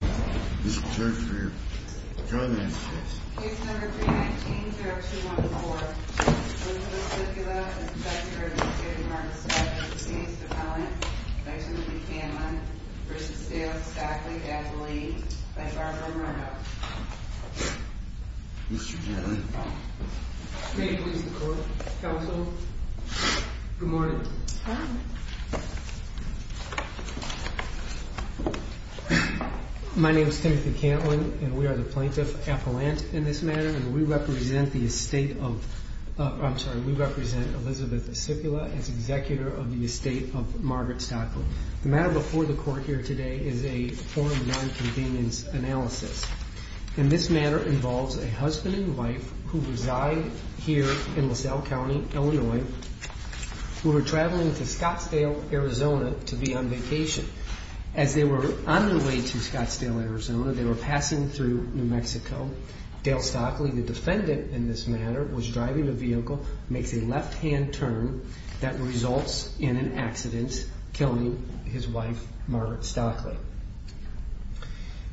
Mr. Judge, are you here? Your Honor, I'm here. Case number 319, juror 2-1-4. Elizabeth Sipula v. Stockley. Mr. Judge. May it please the court. Counsel. Good morning. My name is Timothy Cantlin, and we are the plaintiff appellant in this matter, and we represent the estate of, I'm sorry, we represent Elizabeth Sipula as executor of the estate of Margaret Stockley. The matter before the court here today is a form one convenience analysis. And this matter involves a husband and wife who reside here in LaSalle County, Illinois, who are traveling to Scottsdale, Arizona, to be on vacation. As they were on their way to Scottsdale, Arizona, they were passing through New Mexico. Dale Stockley, the defendant in this matter, was driving a vehicle, makes a left-hand turn, that results in an accident, killing his wife, Margaret Stockley.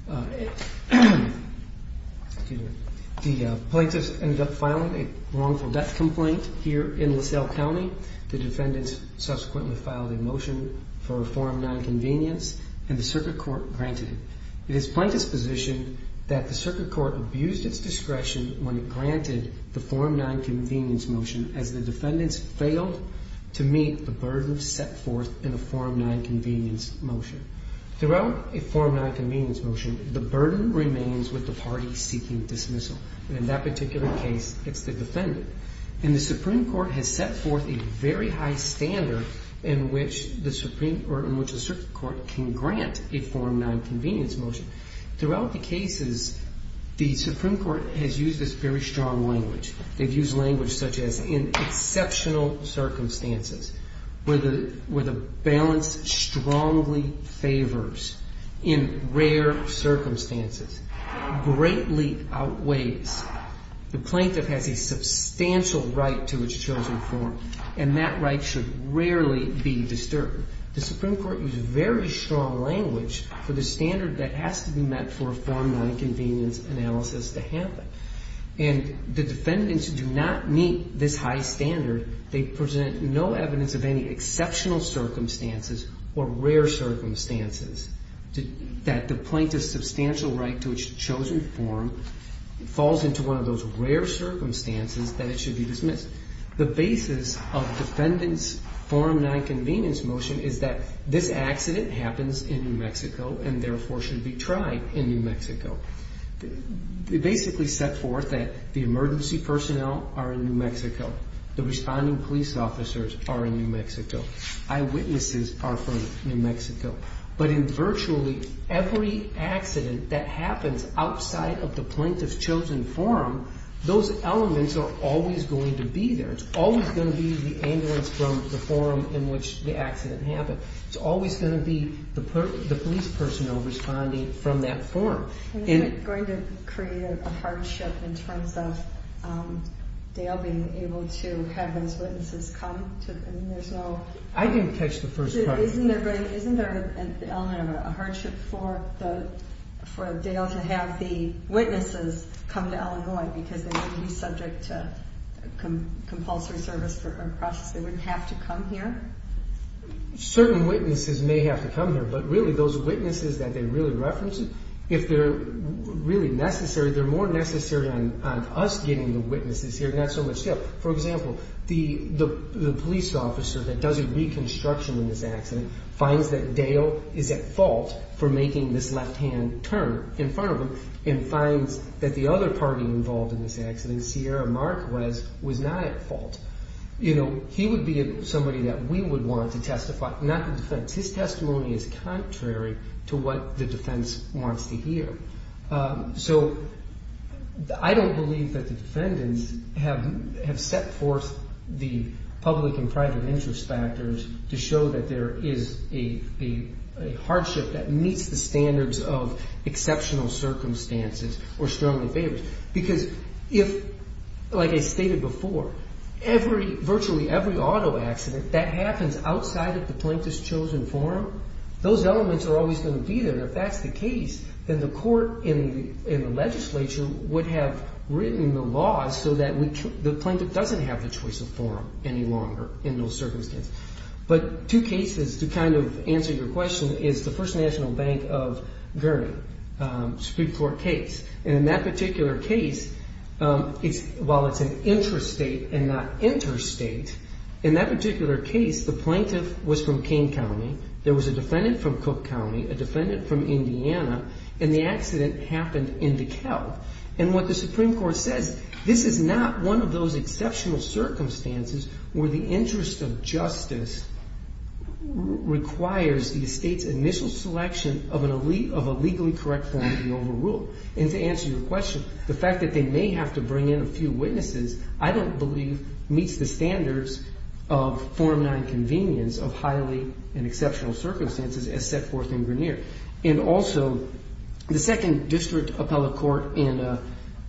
The plaintiffs ended up filing a wrongful death complaint here in LaSalle County. The defendants subsequently filed a motion for a form nine convenience, and the circuit court granted it. It is plaintiff's position that the circuit court abused its discretion when it granted the form nine convenience motion, as the defendants failed to meet the burden set forth in the form nine convenience motion. Throughout a form nine convenience motion, the burden remains with the party seeking dismissal. In that particular case, it's the defendant. And the Supreme Court has set forth a very high standard in which the circuit court can grant a form nine convenience motion. Throughout the cases, the Supreme Court has used this very strong language. They've used language such as, in exceptional circumstances, where the balance strongly favors, in rare circumstances, greatly outweighs. The plaintiff has a substantial right to its chosen form, and that right should rarely be disturbed. The Supreme Court used very strong language for the standard that has to be met for a form nine convenience analysis to happen. And the defendants do not meet this high standard. They present no evidence of any exceptional circumstances or rare circumstances that the plaintiff's substantial right to its chosen form falls into one of those rare circumstances that it should be dismissed. The basis of defendant's form nine convenience motion is that this accident happens in New Mexico and, therefore, should be tried in New Mexico. They basically set forth that the emergency personnel are in New Mexico. The responding police officers are in New Mexico. Eyewitnesses are from New Mexico. But in virtually every accident that happens outside of the plaintiff's chosen form, those elements are always going to be there. It's always going to be the ambulance from the forum in which the accident happened. It's always going to be the police personnel responding from that forum. Isn't it going to create a hardship in terms of Dale being able to have those witnesses come? I didn't catch the first part. Isn't there a hardship for Dale to have the witnesses come to Illinois because they wouldn't be subject to compulsory service for a process? They wouldn't have to come here? Certain witnesses may have to come here, but really those witnesses that they really reference, if they're really necessary, they're more necessary on us getting the witnesses here, not so much Dale. For example, the police officer that does a reconstruction in this accident finds that Dale is at fault for making this left-hand turn in front of him and finds that the other party involved in this accident, Sierra Marquez, was not at fault. He would be somebody that we would want to testify, not the defense. His testimony is contrary to what the defense wants to hear. So I don't believe that the defendants have set forth the public and private interest factors to show that there is a hardship that meets the standards of exceptional circumstances or strongly favors. Because if, like I stated before, virtually every auto accident that happens outside of the plaintiff's chosen forum, those elements are always going to be there. If that's the case, then the court and the legislature would have written the laws so that the plaintiff doesn't have the choice of forum any longer in those circumstances. But two cases to kind of answer your question is the First National Bank of Gurney Supreme Court case. And in that particular case, while it's an interstate and not interstate, in that particular case, the plaintiff was from King County. There was a defendant from Cook County, a defendant from Indiana, and the accident happened in DeKalb. And what the Supreme Court says, this is not one of those exceptional circumstances where the interest of justice requires the state's initial selection of a legally correct form to be overruled. And to answer your question, the fact that they may have to bring in a few witnesses I don't believe meets the standards of Form 9 convenience of highly and exceptional circumstances as set forth in Grineer. And also, the Second District Appellate Court in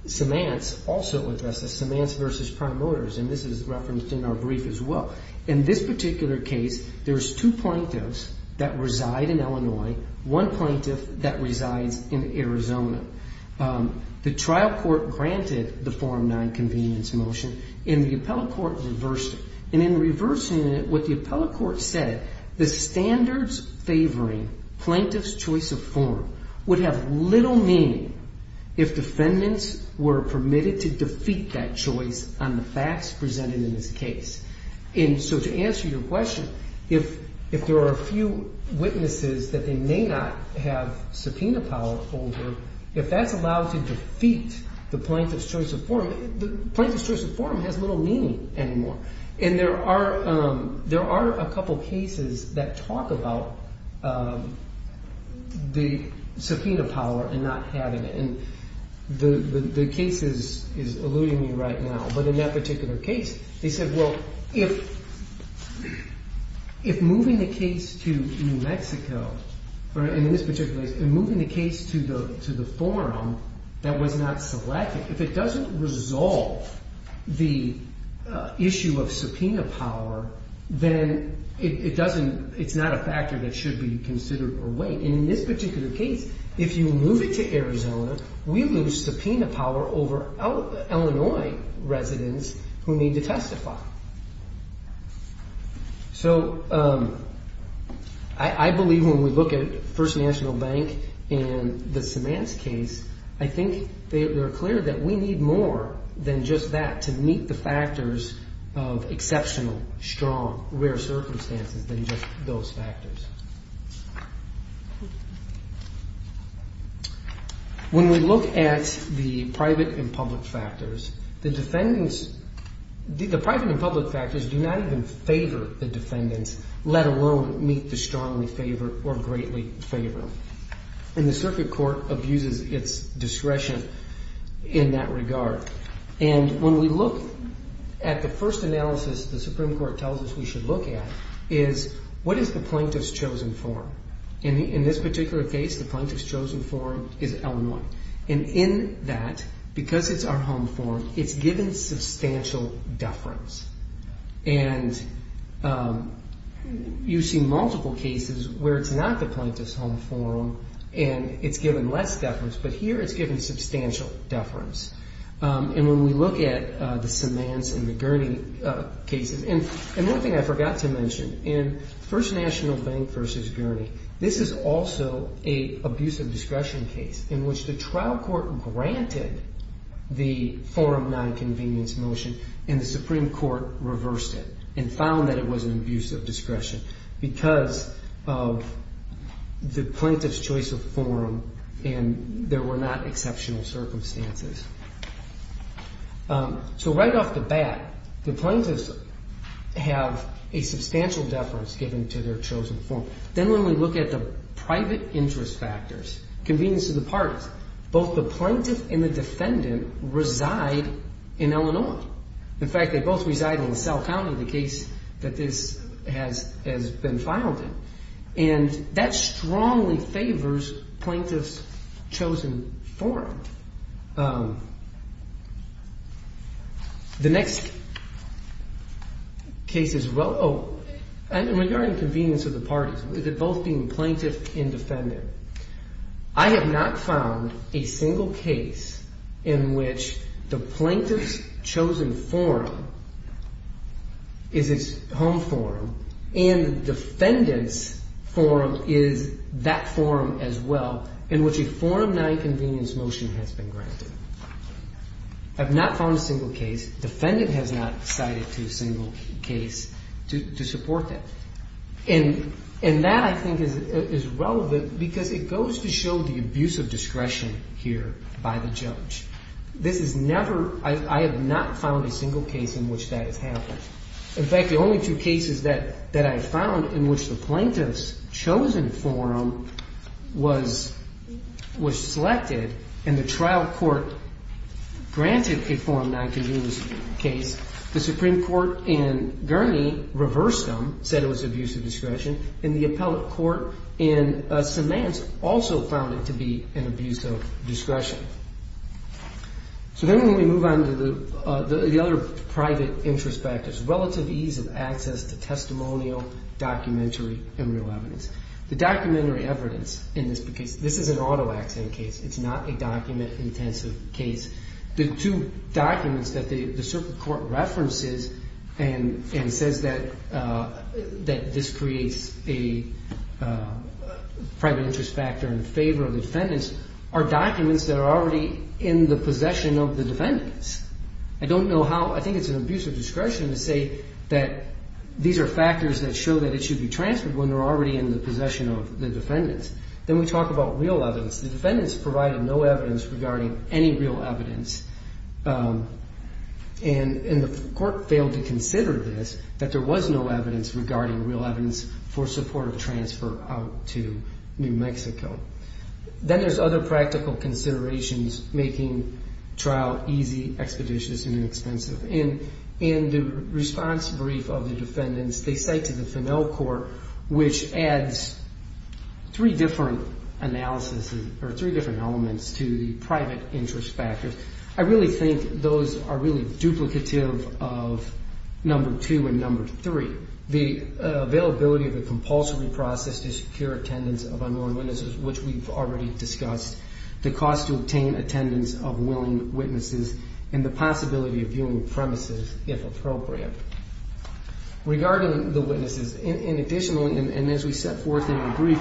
Semance also addresses Semance v. Prime Motors, and this is referenced in our brief as well. In this particular case, there's two plaintiffs that reside in Illinois, one plaintiff that resides in Arizona. The trial court granted the Form 9 convenience motion, and the appellate court reversed it. And in reversing it, what the appellate court said, the standards favoring plaintiff's choice of form would have little meaning if defendants were permitted to defeat that choice on the facts presented in this case. And so to answer your question, if there are a few witnesses that they may not have subpoena power over, if that's allowed to defeat the plaintiff's choice of form, the plaintiff's choice of form has little meaning anymore. And there are a couple cases that talk about the subpoena power and not having it. And the case is alluding me right now. But in that particular case, they said, well, if moving the case to New Mexico, or in this particular case, moving the case to the form that was not selected, if it doesn't resolve the issue of subpoena power, then it's not a factor that should be considered or weighed. And in this particular case, if you move it to Arizona, we lose subpoena power over Illinois residents who need to testify. So I believe when we look at First National Bank and the Semans case, I think they're clear that we need more than just that to meet the factors of exceptional, strong, rare circumstances than just those factors. When we look at the private and public factors, the defendants, the private and public factors do not even favor the defendants, let alone meet the strongly favored or greatly favored. And the circuit court abuses its discretion in that regard. And when we look at the first analysis the Supreme Court tells us we should look at is, what is the plaintiff's chosen forum? In this particular case, the plaintiff's chosen forum is Illinois. And in that, because it's our home forum, it's given substantial deference. And you see multiple cases where it's not the plaintiff's home forum and it's given less deference, but here it's given substantial deference. And when we look at the Semans and the Gurney cases, and one thing I forgot to mention, in First National Bank v. Gurney, this is also an abuse of discretion case in which the trial court granted the forum nonconvenience motion and the Supreme Court reversed it and found that it was an abuse of discretion because of the plaintiff's choice of forum and there were not exceptional circumstances. So right off the bat, the plaintiffs have a substantial deference given to their chosen forum. Then when we look at the private interest factors, convenience of the parties, both the plaintiff and the defendant reside in Illinois. In fact, they both reside in Sal County, the case that this has been filed in. And that strongly favors plaintiff's chosen forum. The next case is well, oh, and regarding convenience of the parties, both being plaintiff and defendant. I have not found a single case in which the plaintiff's chosen forum is its home forum and the defendant's forum is that forum as well in which a forum nonconvenience motion has been granted. I have not found a single case. Defendant has not cited a single case to support that. And that I think is relevant because it goes to show the abuse of discretion here by the judge. This is never, I have not found a single case in which that has happened. In fact, the only two cases that I found in which the plaintiff's chosen forum was selected and the trial court granted a forum nonconvenience case, the Supreme Court in Gurney reversed them, said it was abuse of discretion. And the appellate court in Semans also found it to be an abuse of discretion. So then when we move on to the other private interest factors, relative ease of access to testimonial, documentary, and real evidence. The documentary evidence in this case, this is an auto accident case. It's not a document intensive case. The two documents that the circuit court references and says that this creates a private interest factor in favor of the defendants are documents that are already in the possession of the defendants. I don't know how, I think it's an abuse of discretion to say that these are factors that show that it should be transferred when they're already in the possession of the defendants. Then we talk about real evidence. The defendants provided no evidence regarding any real evidence. And the court failed to consider this, that there was no evidence regarding real evidence for support of transfer out to New Mexico. Then there's other practical considerations making trial easy, expeditious, and inexpensive. In the response brief of the defendants, they say to the Fennel Court, which adds three different analysis or three different elements to the private interest factors, I really think those are really duplicative of number two and number three. The availability of a compulsory process to secure attendance of unknown witnesses, which we've already discussed. The cost to obtain attendance of willing witnesses, and the possibility of viewing premises, if appropriate. Regarding the witnesses, and additionally, and as we set forth in the brief,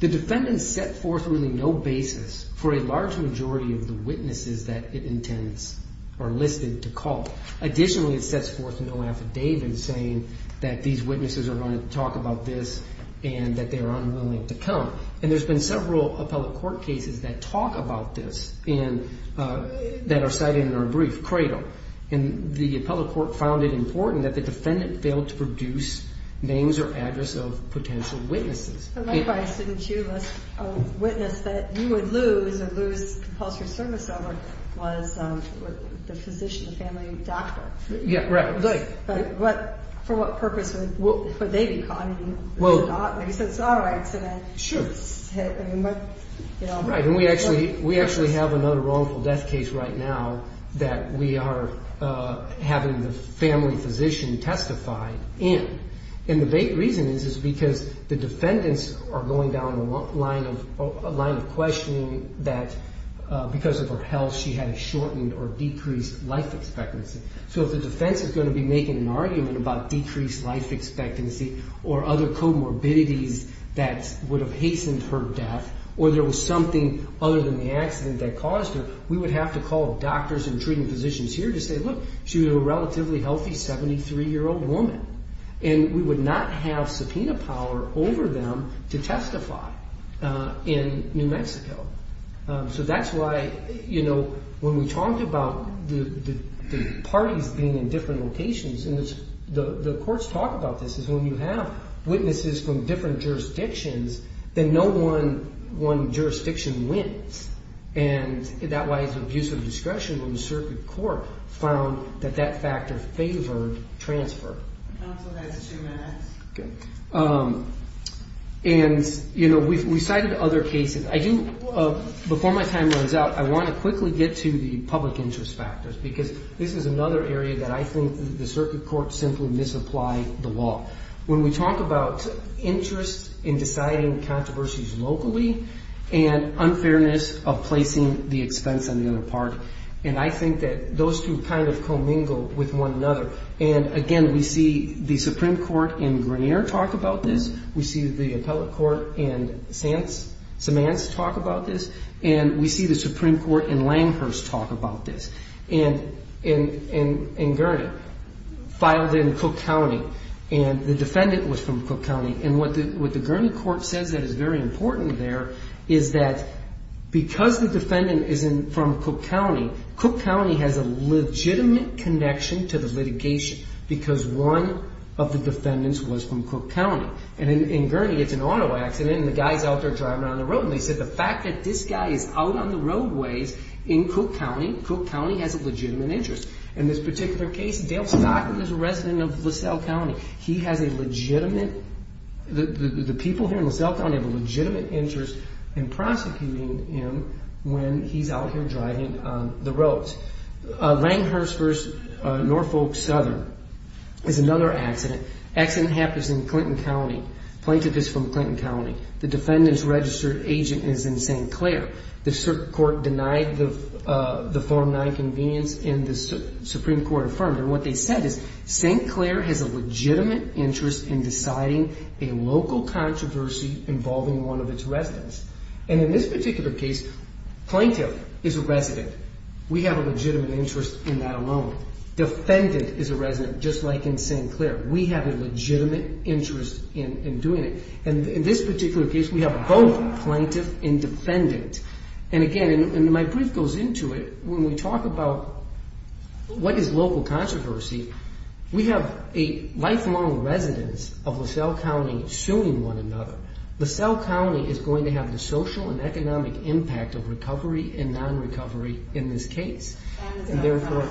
the defendants set forth really no basis for a large majority of the witnesses that it intends or listed to call. Additionally, it sets forth no affidavit saying that these witnesses are going to talk about this and that they're unwilling to come. And there's been several appellate court cases that talk about this and that are cited in our brief, Cradle. And the appellate court found it important that the defendant failed to produce names or address of potential witnesses. But likewise, didn't you list a witness that you would lose or lose compulsory service over was the physician, the family doctor? Yeah, right. But for what purpose would they be calling you? All right. Sure. Right. And we actually have another wrongful death case right now that we are having the family physician testify in. And the reason is because the defendants are going down a line of questioning that because of her health, she had a shortened or decreased life expectancy. So if the defense is going to be making an argument about decreased life expectancy or other comorbidities that would have hastened her death or there was something other than the accident that caused her, we would have to call doctors and treating physicians here to say, look, she was a relatively healthy 73-year-old woman. And we would not have subpoena power over them to testify in New Mexico. So that's why, you know, when we talked about the parties being in different locations, and the courts talk about this, is when you have witnesses from different jurisdictions, then no one jurisdiction wins. And that's why it's abuse of discretion when the circuit court found that that factor favored transfer. Counsel, that's two minutes. Okay. And, you know, we cited other cases. I do, before my time runs out, I want to quickly get to the public interest factors because this is another area that I think the circuit courts simply misapply the law. When we talk about interest in deciding controversies locally and unfairness of placing the expense on the other part, and I think that those two kind of commingle with one another. And, again, we see the Supreme Court in Grenier talk about this. We see the appellate court in Samantz talk about this. And we see the Supreme Court in Langhurst talk about this. And in Gurney, filed in Cook County, and the defendant was from Cook County. And what the Gurney court says that is very important there is that because the defendant is from Cook County, Cook County has a legitimate connection to the litigation because one of the defendants was from Cook County. And in Gurney, it's an auto accident, and the guy's out there driving on the road. And they said the fact that this guy is out on the roadways in Cook County, Cook County has a legitimate interest. In this particular case, Dale Stockton is a resident of LaSalle County. He has a legitimate, the people here in LaSalle County have a legitimate interest in prosecuting him when he's out here driving on the roads. Langhurst versus Norfolk Southern is another accident. Accident happens in Clinton County. Plaintiff is from Clinton County. The defendant's registered agent is in St. Clair. The court denied the form 9 convenience, and the Supreme Court affirmed it. And what they said is St. Clair has a legitimate interest in deciding a local controversy involving one of its residents. And in this particular case, plaintiff is a resident. We have a legitimate interest in that alone. Defendant is a resident, just like in St. Clair. We have a legitimate interest in doing it. And in this particular case, we have both plaintiff and defendant. And again, and my brief goes into it, when we talk about what is local controversy, we have a lifelong residence of LaSalle County suing one another. LaSalle County is going to have the social and economic impact of recovery and non-recovery in this case. And therefore,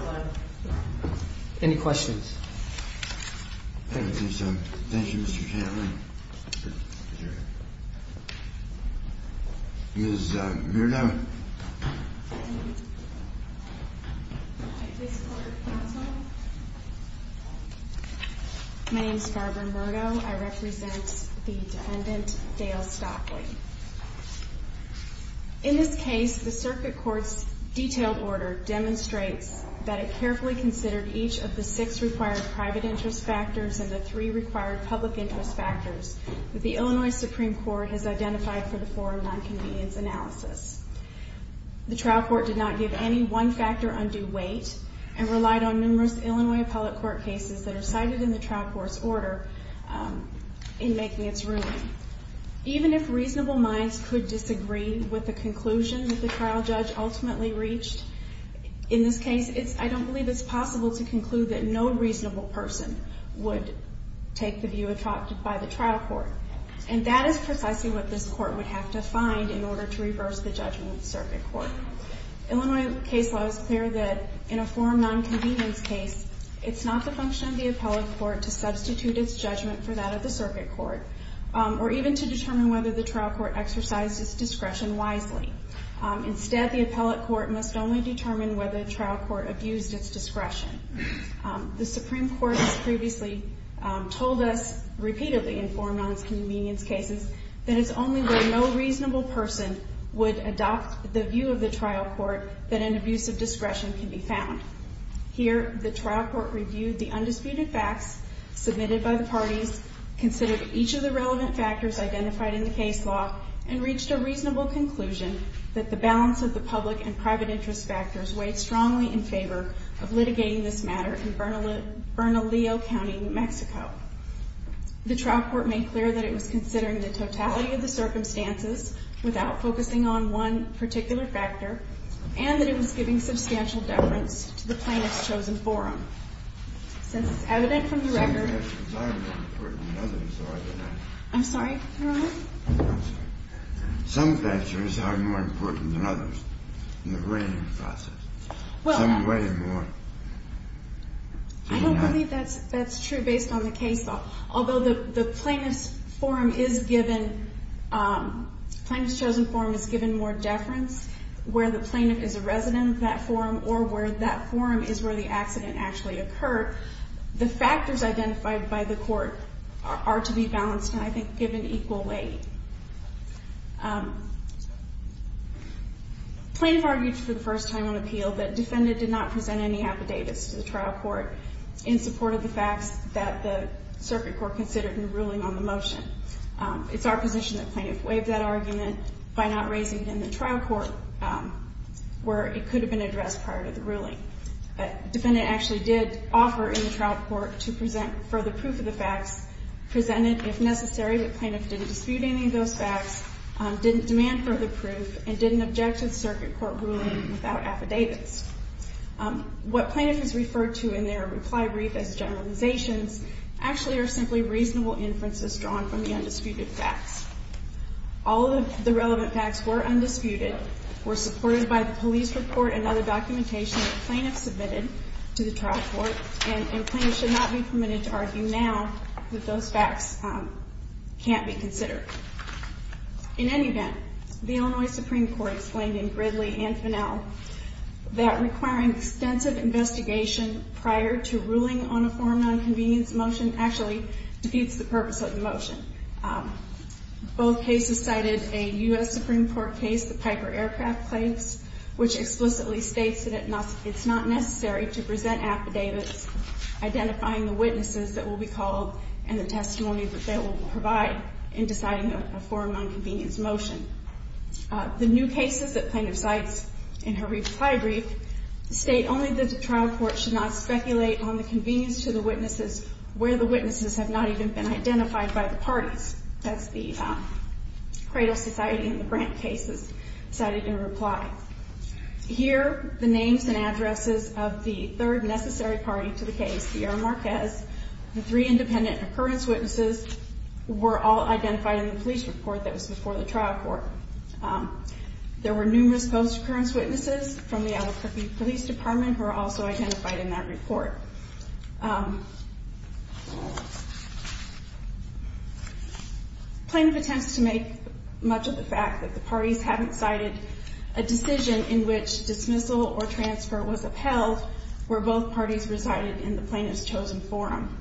any questions? Thank you, Mr. Chairman. Ms. Murdo. My name is Barbara Murdo. I represent the defendant, Dale Stockley. In this case, the circuit court's detailed order demonstrates that it carefully considered each of the six required private interest factors and the three required public interest factors that the Illinois Supreme Court has identified for the form 9 convenience analysis. The trial court did not give any one-factor undue weight and relied on numerous Illinois appellate court cases that are cited in the trial court's order in making its ruling. Even if reasonable minds could disagree with the conclusion that the trial judge ultimately reached, in this case, I don't believe it's possible to conclude that no reasonable person would take the view adopted by the trial court. And that is precisely what this court would have to find in order to reverse the judgment of the circuit court. Illinois case law is clear that in a form 9 convenience case, it's not the function of the appellate court to substitute its judgment for that of the circuit court or even to determine whether the trial court exercised its discretion wisely. Instead, the appellate court must only determine whether the trial court abused its discretion. The Supreme Court has previously told us repeatedly in form 9 convenience cases that it's only when no reasonable person would adopt the view of the trial court that an abuse of discretion can be found. Here, the trial court reviewed the undisputed facts submitted by the parties, considered each of the relevant factors identified in the case law, and reached a reasonable conclusion that the balance of the public and private interest factors weighed strongly in favor of litigating this matter in Bernalillo County, New Mexico. The trial court made clear that it was considering the totality of the circumstances without focusing on one particular factor and that it was giving substantial deference to the plaintiff's chosen forum. Since it's evident from the record... Some factors are more important than others, are they not? I'm sorry, Your Honor? No, I'm sorry. Some factors are more important than others in the reigning process. Well... Some weigh more. I don't believe that's true based on the case law. Although the plaintiff's forum is given, plaintiff's chosen forum is given more deference where the plaintiff is a resident of that forum or where that forum is where the accident actually occurred. The factors identified by the court are to be balanced and, I think, given equal weight. Plaintiff argued for the first time on appeal that defendant did not present any affidavits to the trial court in support of the facts that the circuit court considered in ruling on the motion. It's our position that plaintiff waived that argument by not raising it in the trial court where it could have been addressed prior to the ruling. The defendant actually did offer in the trial court to present further proof of the facts, presented, if necessary, that plaintiff didn't dispute any of those facts, didn't demand further proof, and didn't object to the circuit court ruling without affidavits. What plaintiff has referred to in their reply brief as generalizations actually are simply reasonable inferences drawn from the undisputed facts. All of the relevant facts were undisputed, were supported by the police report and other documentation that plaintiff submitted to the trial court, and plaintiffs should not be permitted to argue now that those facts can't be considered. In any event, the Illinois Supreme Court explained in Gridley and Finnell that requiring extensive investigation prior to ruling on a foreign nonconvenience motion actually defeats the purpose of the motion. Both cases cited a U.S. Supreme Court case, the Piper Aircraft Claims, which explicitly states that it's not necessary to present affidavits identifying the witnesses that will be called and the testimony that they will provide in deciding a foreign nonconvenience motion. The new cases that plaintiff cites in her reply brief state only that the trial court should not speculate on the convenience to the witnesses where the witnesses have not even been identified by the parties. That's the Cradle Society and the Brandt cases cited in reply. Here, the names and addresses of the third necessary party to the case, Sierra Marquez, the three independent occurrence witnesses, were all identified in the police report that was before the trial court. There were numerous post-occurrence witnesses from the Albuquerque Police Department who were also identified in that report. Plaintiff attempts to make much of the fact that the parties haven't cited a decision in which dismissal or transfer was upheld where both parties resided in the plaintiff's chosen forum.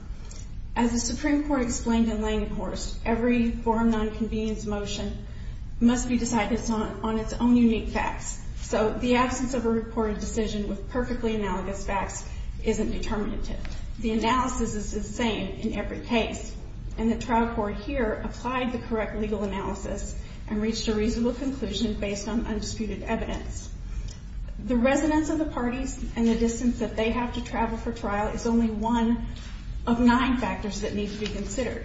As the Supreme Court explained in Lane and Horst, every foreign nonconvenience motion must be decided on its own unique facts. So the absence of a reported decision with perfectly analogous facts isn't determinative. The analysis is the same in every case. And the trial court here applied the correct legal analysis and reached a reasonable conclusion based on undisputed evidence. The residence of the parties and the distance that they have to travel for trial is only one of nine factors that need to be considered.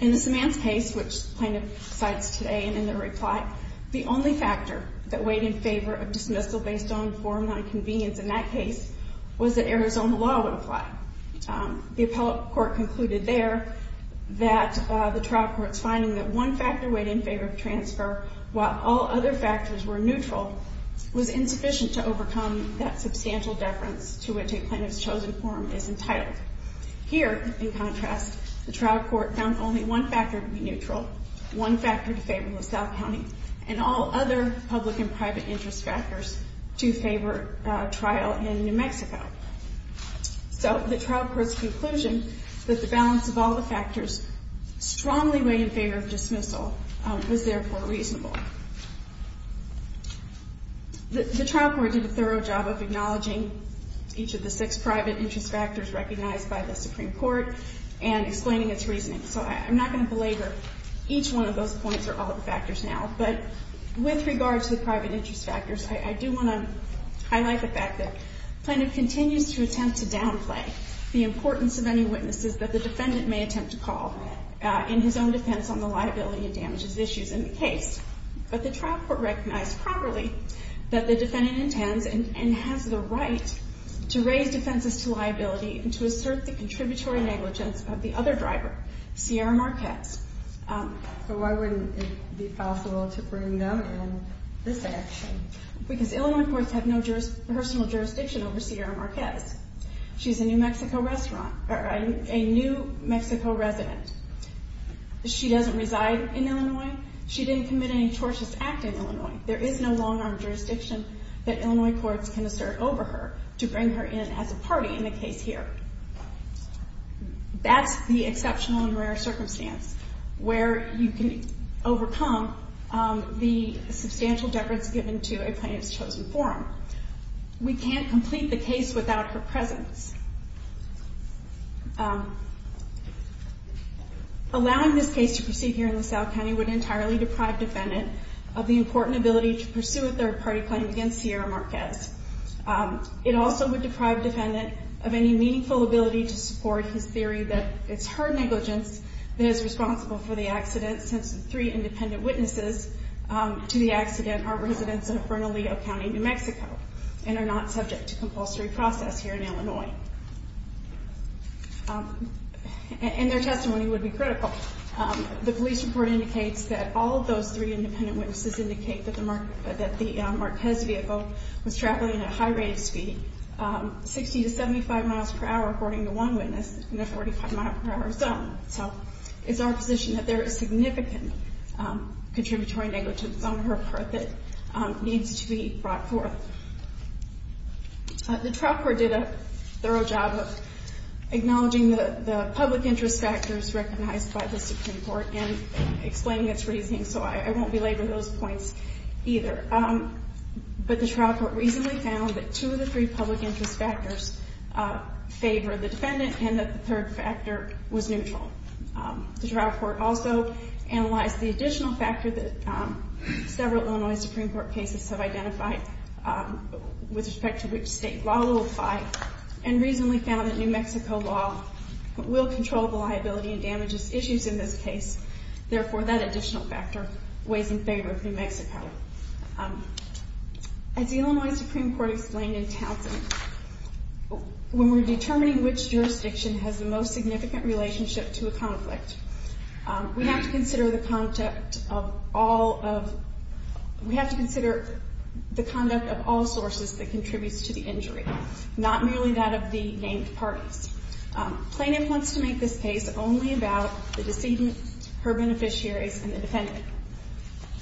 In the Samantz case, which plaintiff cites today and in their reply, the only factor that weighed in favor of dismissal based on foreign nonconvenience in that case was that Arizona law would apply. The appellate court concluded there that the trial court's finding that one factor weighed in favor of transfer while all other factors were neutral was insufficient to overcome that substantial deference to which a plaintiff's chosen forum is entitled. Here, in contrast, the trial court found only one factor to be neutral, one factor to favor in LaSalle County, and all other public and private interest factors to favor trial in New Mexico. So the trial court's conclusion that the balance of all the factors strongly weighed in favor of dismissal was therefore reasonable. The trial court did a thorough job of acknowledging each of the six private interest factors recognized by the Supreme Court and explaining its reasoning. So I'm not going to belabor. Each one of those points are all of the factors now. But with regard to the private interest factors, I do want to highlight the fact that plaintiff continues to attempt to downplay the importance of any witnesses that the defendant may attempt to call in his own defense on the liability and damages issues in the case. But the trial court recognized properly that the defendant intends and has the right to raise defenses to liability and to assert the contributory negligence of the other driver, Sierra Marquez. So why wouldn't it be possible to bring them in this action? Because Illinois courts have no personal jurisdiction over Sierra Marquez. She's a New Mexico resident. She doesn't reside in Illinois. She didn't commit any tortious act in Illinois. There is no long-arm jurisdiction that Illinois courts can assert over her to bring her in as a party in the case here. That's the exceptional and rare circumstance where you can overcome the substantial deference given to a plaintiff's chosen forum. We can't complete the case without her presence. Allowing this case to proceed here in LaSalle County would entirely deprive defendant of the important ability to pursue a third-party claim against Sierra Marquez. It also would deprive defendant of any meaningful ability to support his theory that it's her negligence that is responsible for the accident since the three independent witnesses to the accident are residents of Bernalillo County, New Mexico and are not subject to compulsory process here in Illinois. And their testimony would be critical. The police report indicates that all of those three independent witnesses indicate that the Marquez vehicle was traveling at a high rate of speed, 60 to 75 miles per hour according to one witness in a 45-mile-per-hour zone. So it's our position that there is significant contributory negligence on her part that needs to be brought forth. The trial court did a thorough job of acknowledging the public interest factors recognized by the Supreme Court and explaining its reasoning, so I won't belabor those points either. But the trial court reasonably found that two of the three public interest factors favor the defendant and that the third factor was neutral. The trial court also analyzed the additional factor that several Illinois Supreme Court cases have identified with respect to which state law will apply and reasonably found that New Mexico law will control the liability and damages issues in this case. Therefore, that additional factor weighs in favor of New Mexico. As the Illinois Supreme Court explained in Townsend, when we're determining which jurisdiction has the most significant relationship to a conflict, we have to consider the conduct of all sources that contributes to the injury, not merely that of the named parties. Plaintiff wants to make this case only about the decedent, her beneficiaries, and the defendant.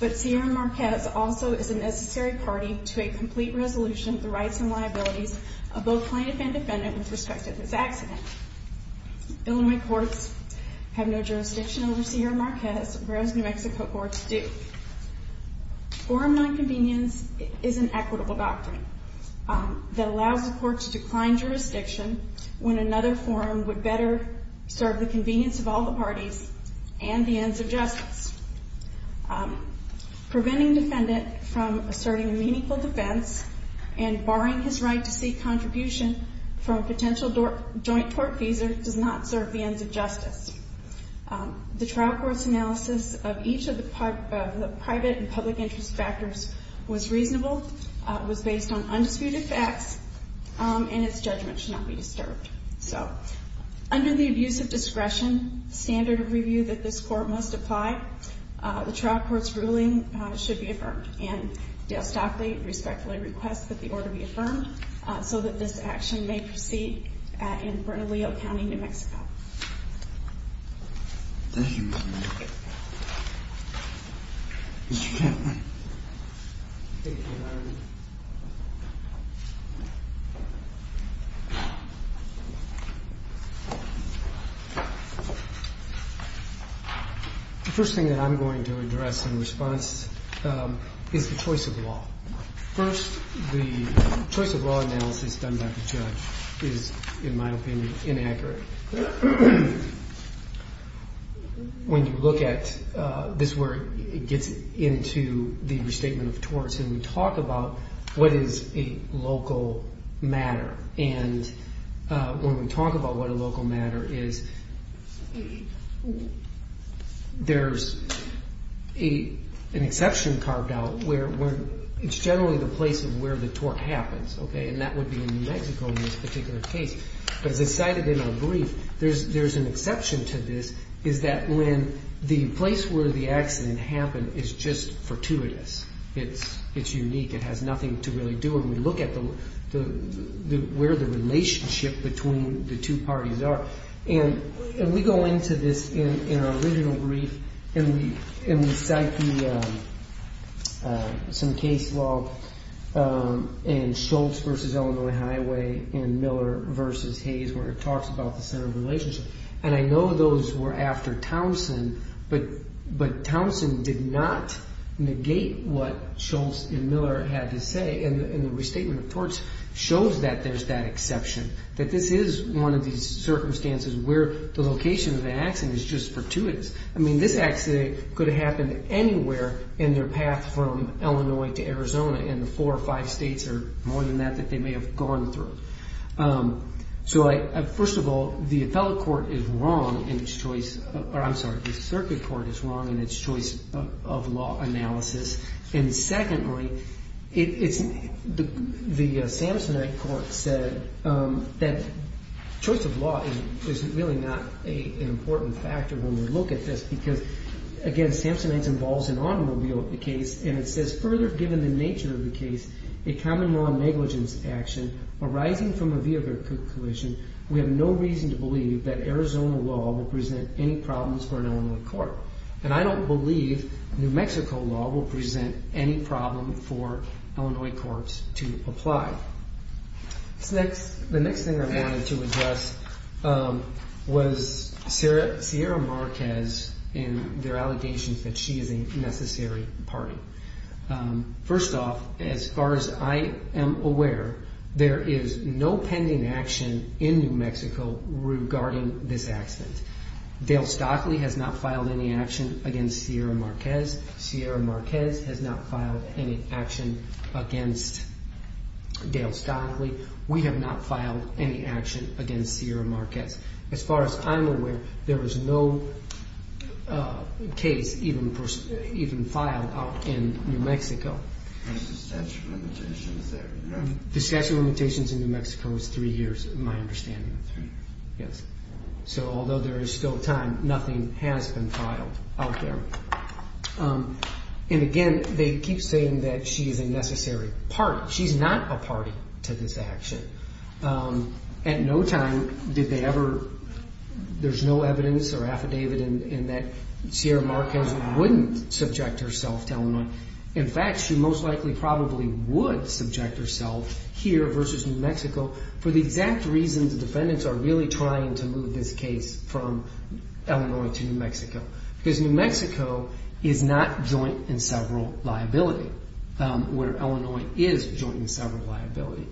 But Sierra Marquez also is a necessary party to a complete resolution of the rights and liabilities of both plaintiff and defendant with respect to this accident. Illinois courts have no jurisdiction over Sierra Marquez, whereas New Mexico courts do. Forum nonconvenience is an equitable doctrine that allows the court to decline jurisdiction when another forum would better serve the convenience of all the parties and the ends of justice. Preventing defendant from asserting a meaningful defense and barring his right to seek contribution from a potential joint court visa does not serve the ends of justice. The trial court's analysis of each of the private and public interest factors was reasonable, was based on undisputed facts, and its judgment should not be disturbed. So under the abuse of discretion standard of review that this court must apply, the trial court's ruling should be affirmed. And Dale Stockley respectfully requests that the order be affirmed so that this action may proceed in Bernalillo County, New Mexico. The first thing that I'm going to address in response is the choice of law. First, the choice of law analysis done by the judge is, in my opinion, inaccurate. When you look at this word, it gets into the restatement of torts, and we talk about what is a local matter. And when we talk about what a local matter is, there's an exception carved out where it's generally the place of where the tort happens. And that would be in New Mexico in this particular case. But as I cited in our brief, there's an exception to this, is that when the place where the accident happened is just fortuitous. It's unique. It has nothing to really do. And we look at where the relationship between the two parties are. And we go into this in our original brief, and we cite some case law in Schultz v. Illinois Highway and Miller v. Hayes, where it talks about the center of relationship. And I know those were after Townsend, but Townsend did not negate what Schultz and Miller had to say, and the restatement of torts shows that there's that exception, that this is one of these circumstances where the location of the accident is just fortuitous. I mean, this accident could have happened anywhere in their path from Illinois to Arizona, and the four or five states are more than that that they may have gone through. So, first of all, the appellate court is wrong in its choice, or I'm sorry, the circuit court is wrong in its choice of law analysis. And secondly, the Samsonite court said that choice of law is really not an important factor when we look at this, because, again, Samsonite involves an automobile in the case, and it says, further, given the nature of the case, a common law negligence action arising from a vehicle collision, we have no reason to believe that Arizona law will present any problems for an Illinois court. And I don't believe New Mexico law will present any problem for Illinois courts to apply. The next thing I wanted to address was Sierra Marquez and their allegations that she is a necessary party. First off, as far as I am aware, there is no pending action in New Mexico regarding this accident. Dale Stockley has not filed any action against Sierra Marquez. Sierra Marquez has not filed any action against Dale Stockley. We have not filed any action against Sierra Marquez. As far as I'm aware, there is no case even filed out in New Mexico. The statute of limitations in New Mexico is three years, in my understanding. So, although there is still time, nothing has been filed out there. And, again, they keep saying that she is a necessary party. She's not a party to this action. At no time did they ever, there's no evidence or affidavit in that Sierra Marquez wouldn't subject herself to Illinois. In fact, she most likely probably would subject herself here versus New Mexico for the exact reasons the defendants are really trying to move this case from Illinois to New Mexico. Because New Mexico is not joint and several liability, where Illinois is joint and several liability.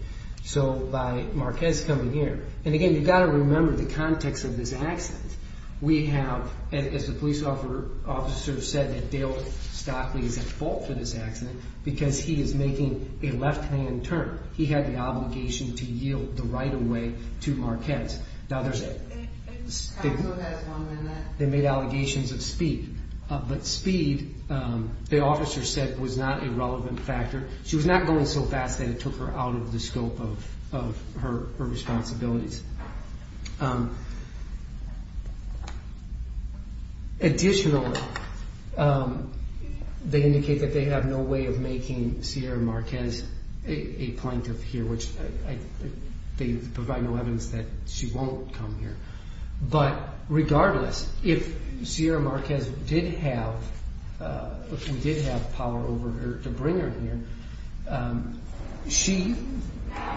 So, by Marquez coming here, and, again, you've got to remember the context of this accident. We have, as the police officer said, that Dale Stockley is at fault for this accident because he is making a left-hand turn. He had the obligation to yield the right-of-way to Marquez. Now, there's, they made allegations of speed. But speed, the officer said, was not a relevant factor. She was not going so fast that it took her out of the scope of her responsibilities. Additionally, they indicate that they have no way of making Sierra Marquez a plaintiff here, which they provide no evidence that she won't come here. But regardless, if Sierra Marquez did have, if we did have power over her to bring her here, she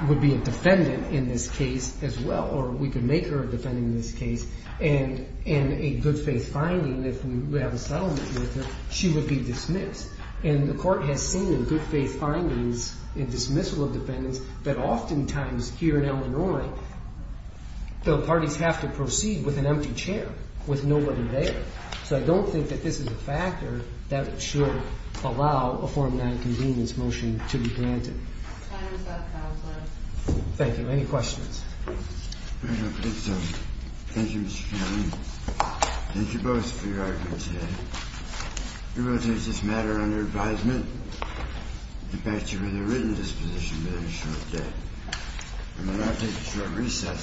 would be a defendant in this case as well, or we could make her a defendant in this case. And in a good-faith finding, if we have a settlement with her, she would be dismissed. And the Court has seen in good-faith findings, in dismissal of defendants, that oftentimes here in Illinois, the parties have to proceed with an empty chair, with nobody there. So I don't think that this is a factor that should allow a Form 9 convenience motion to be granted. Thank you. Any questions? Thank you, Mr. Chairman. Thank you both for your arguments today. We will take this matter under advisement and back you with a written disposition within a short day. I'm going to have to take a short recess.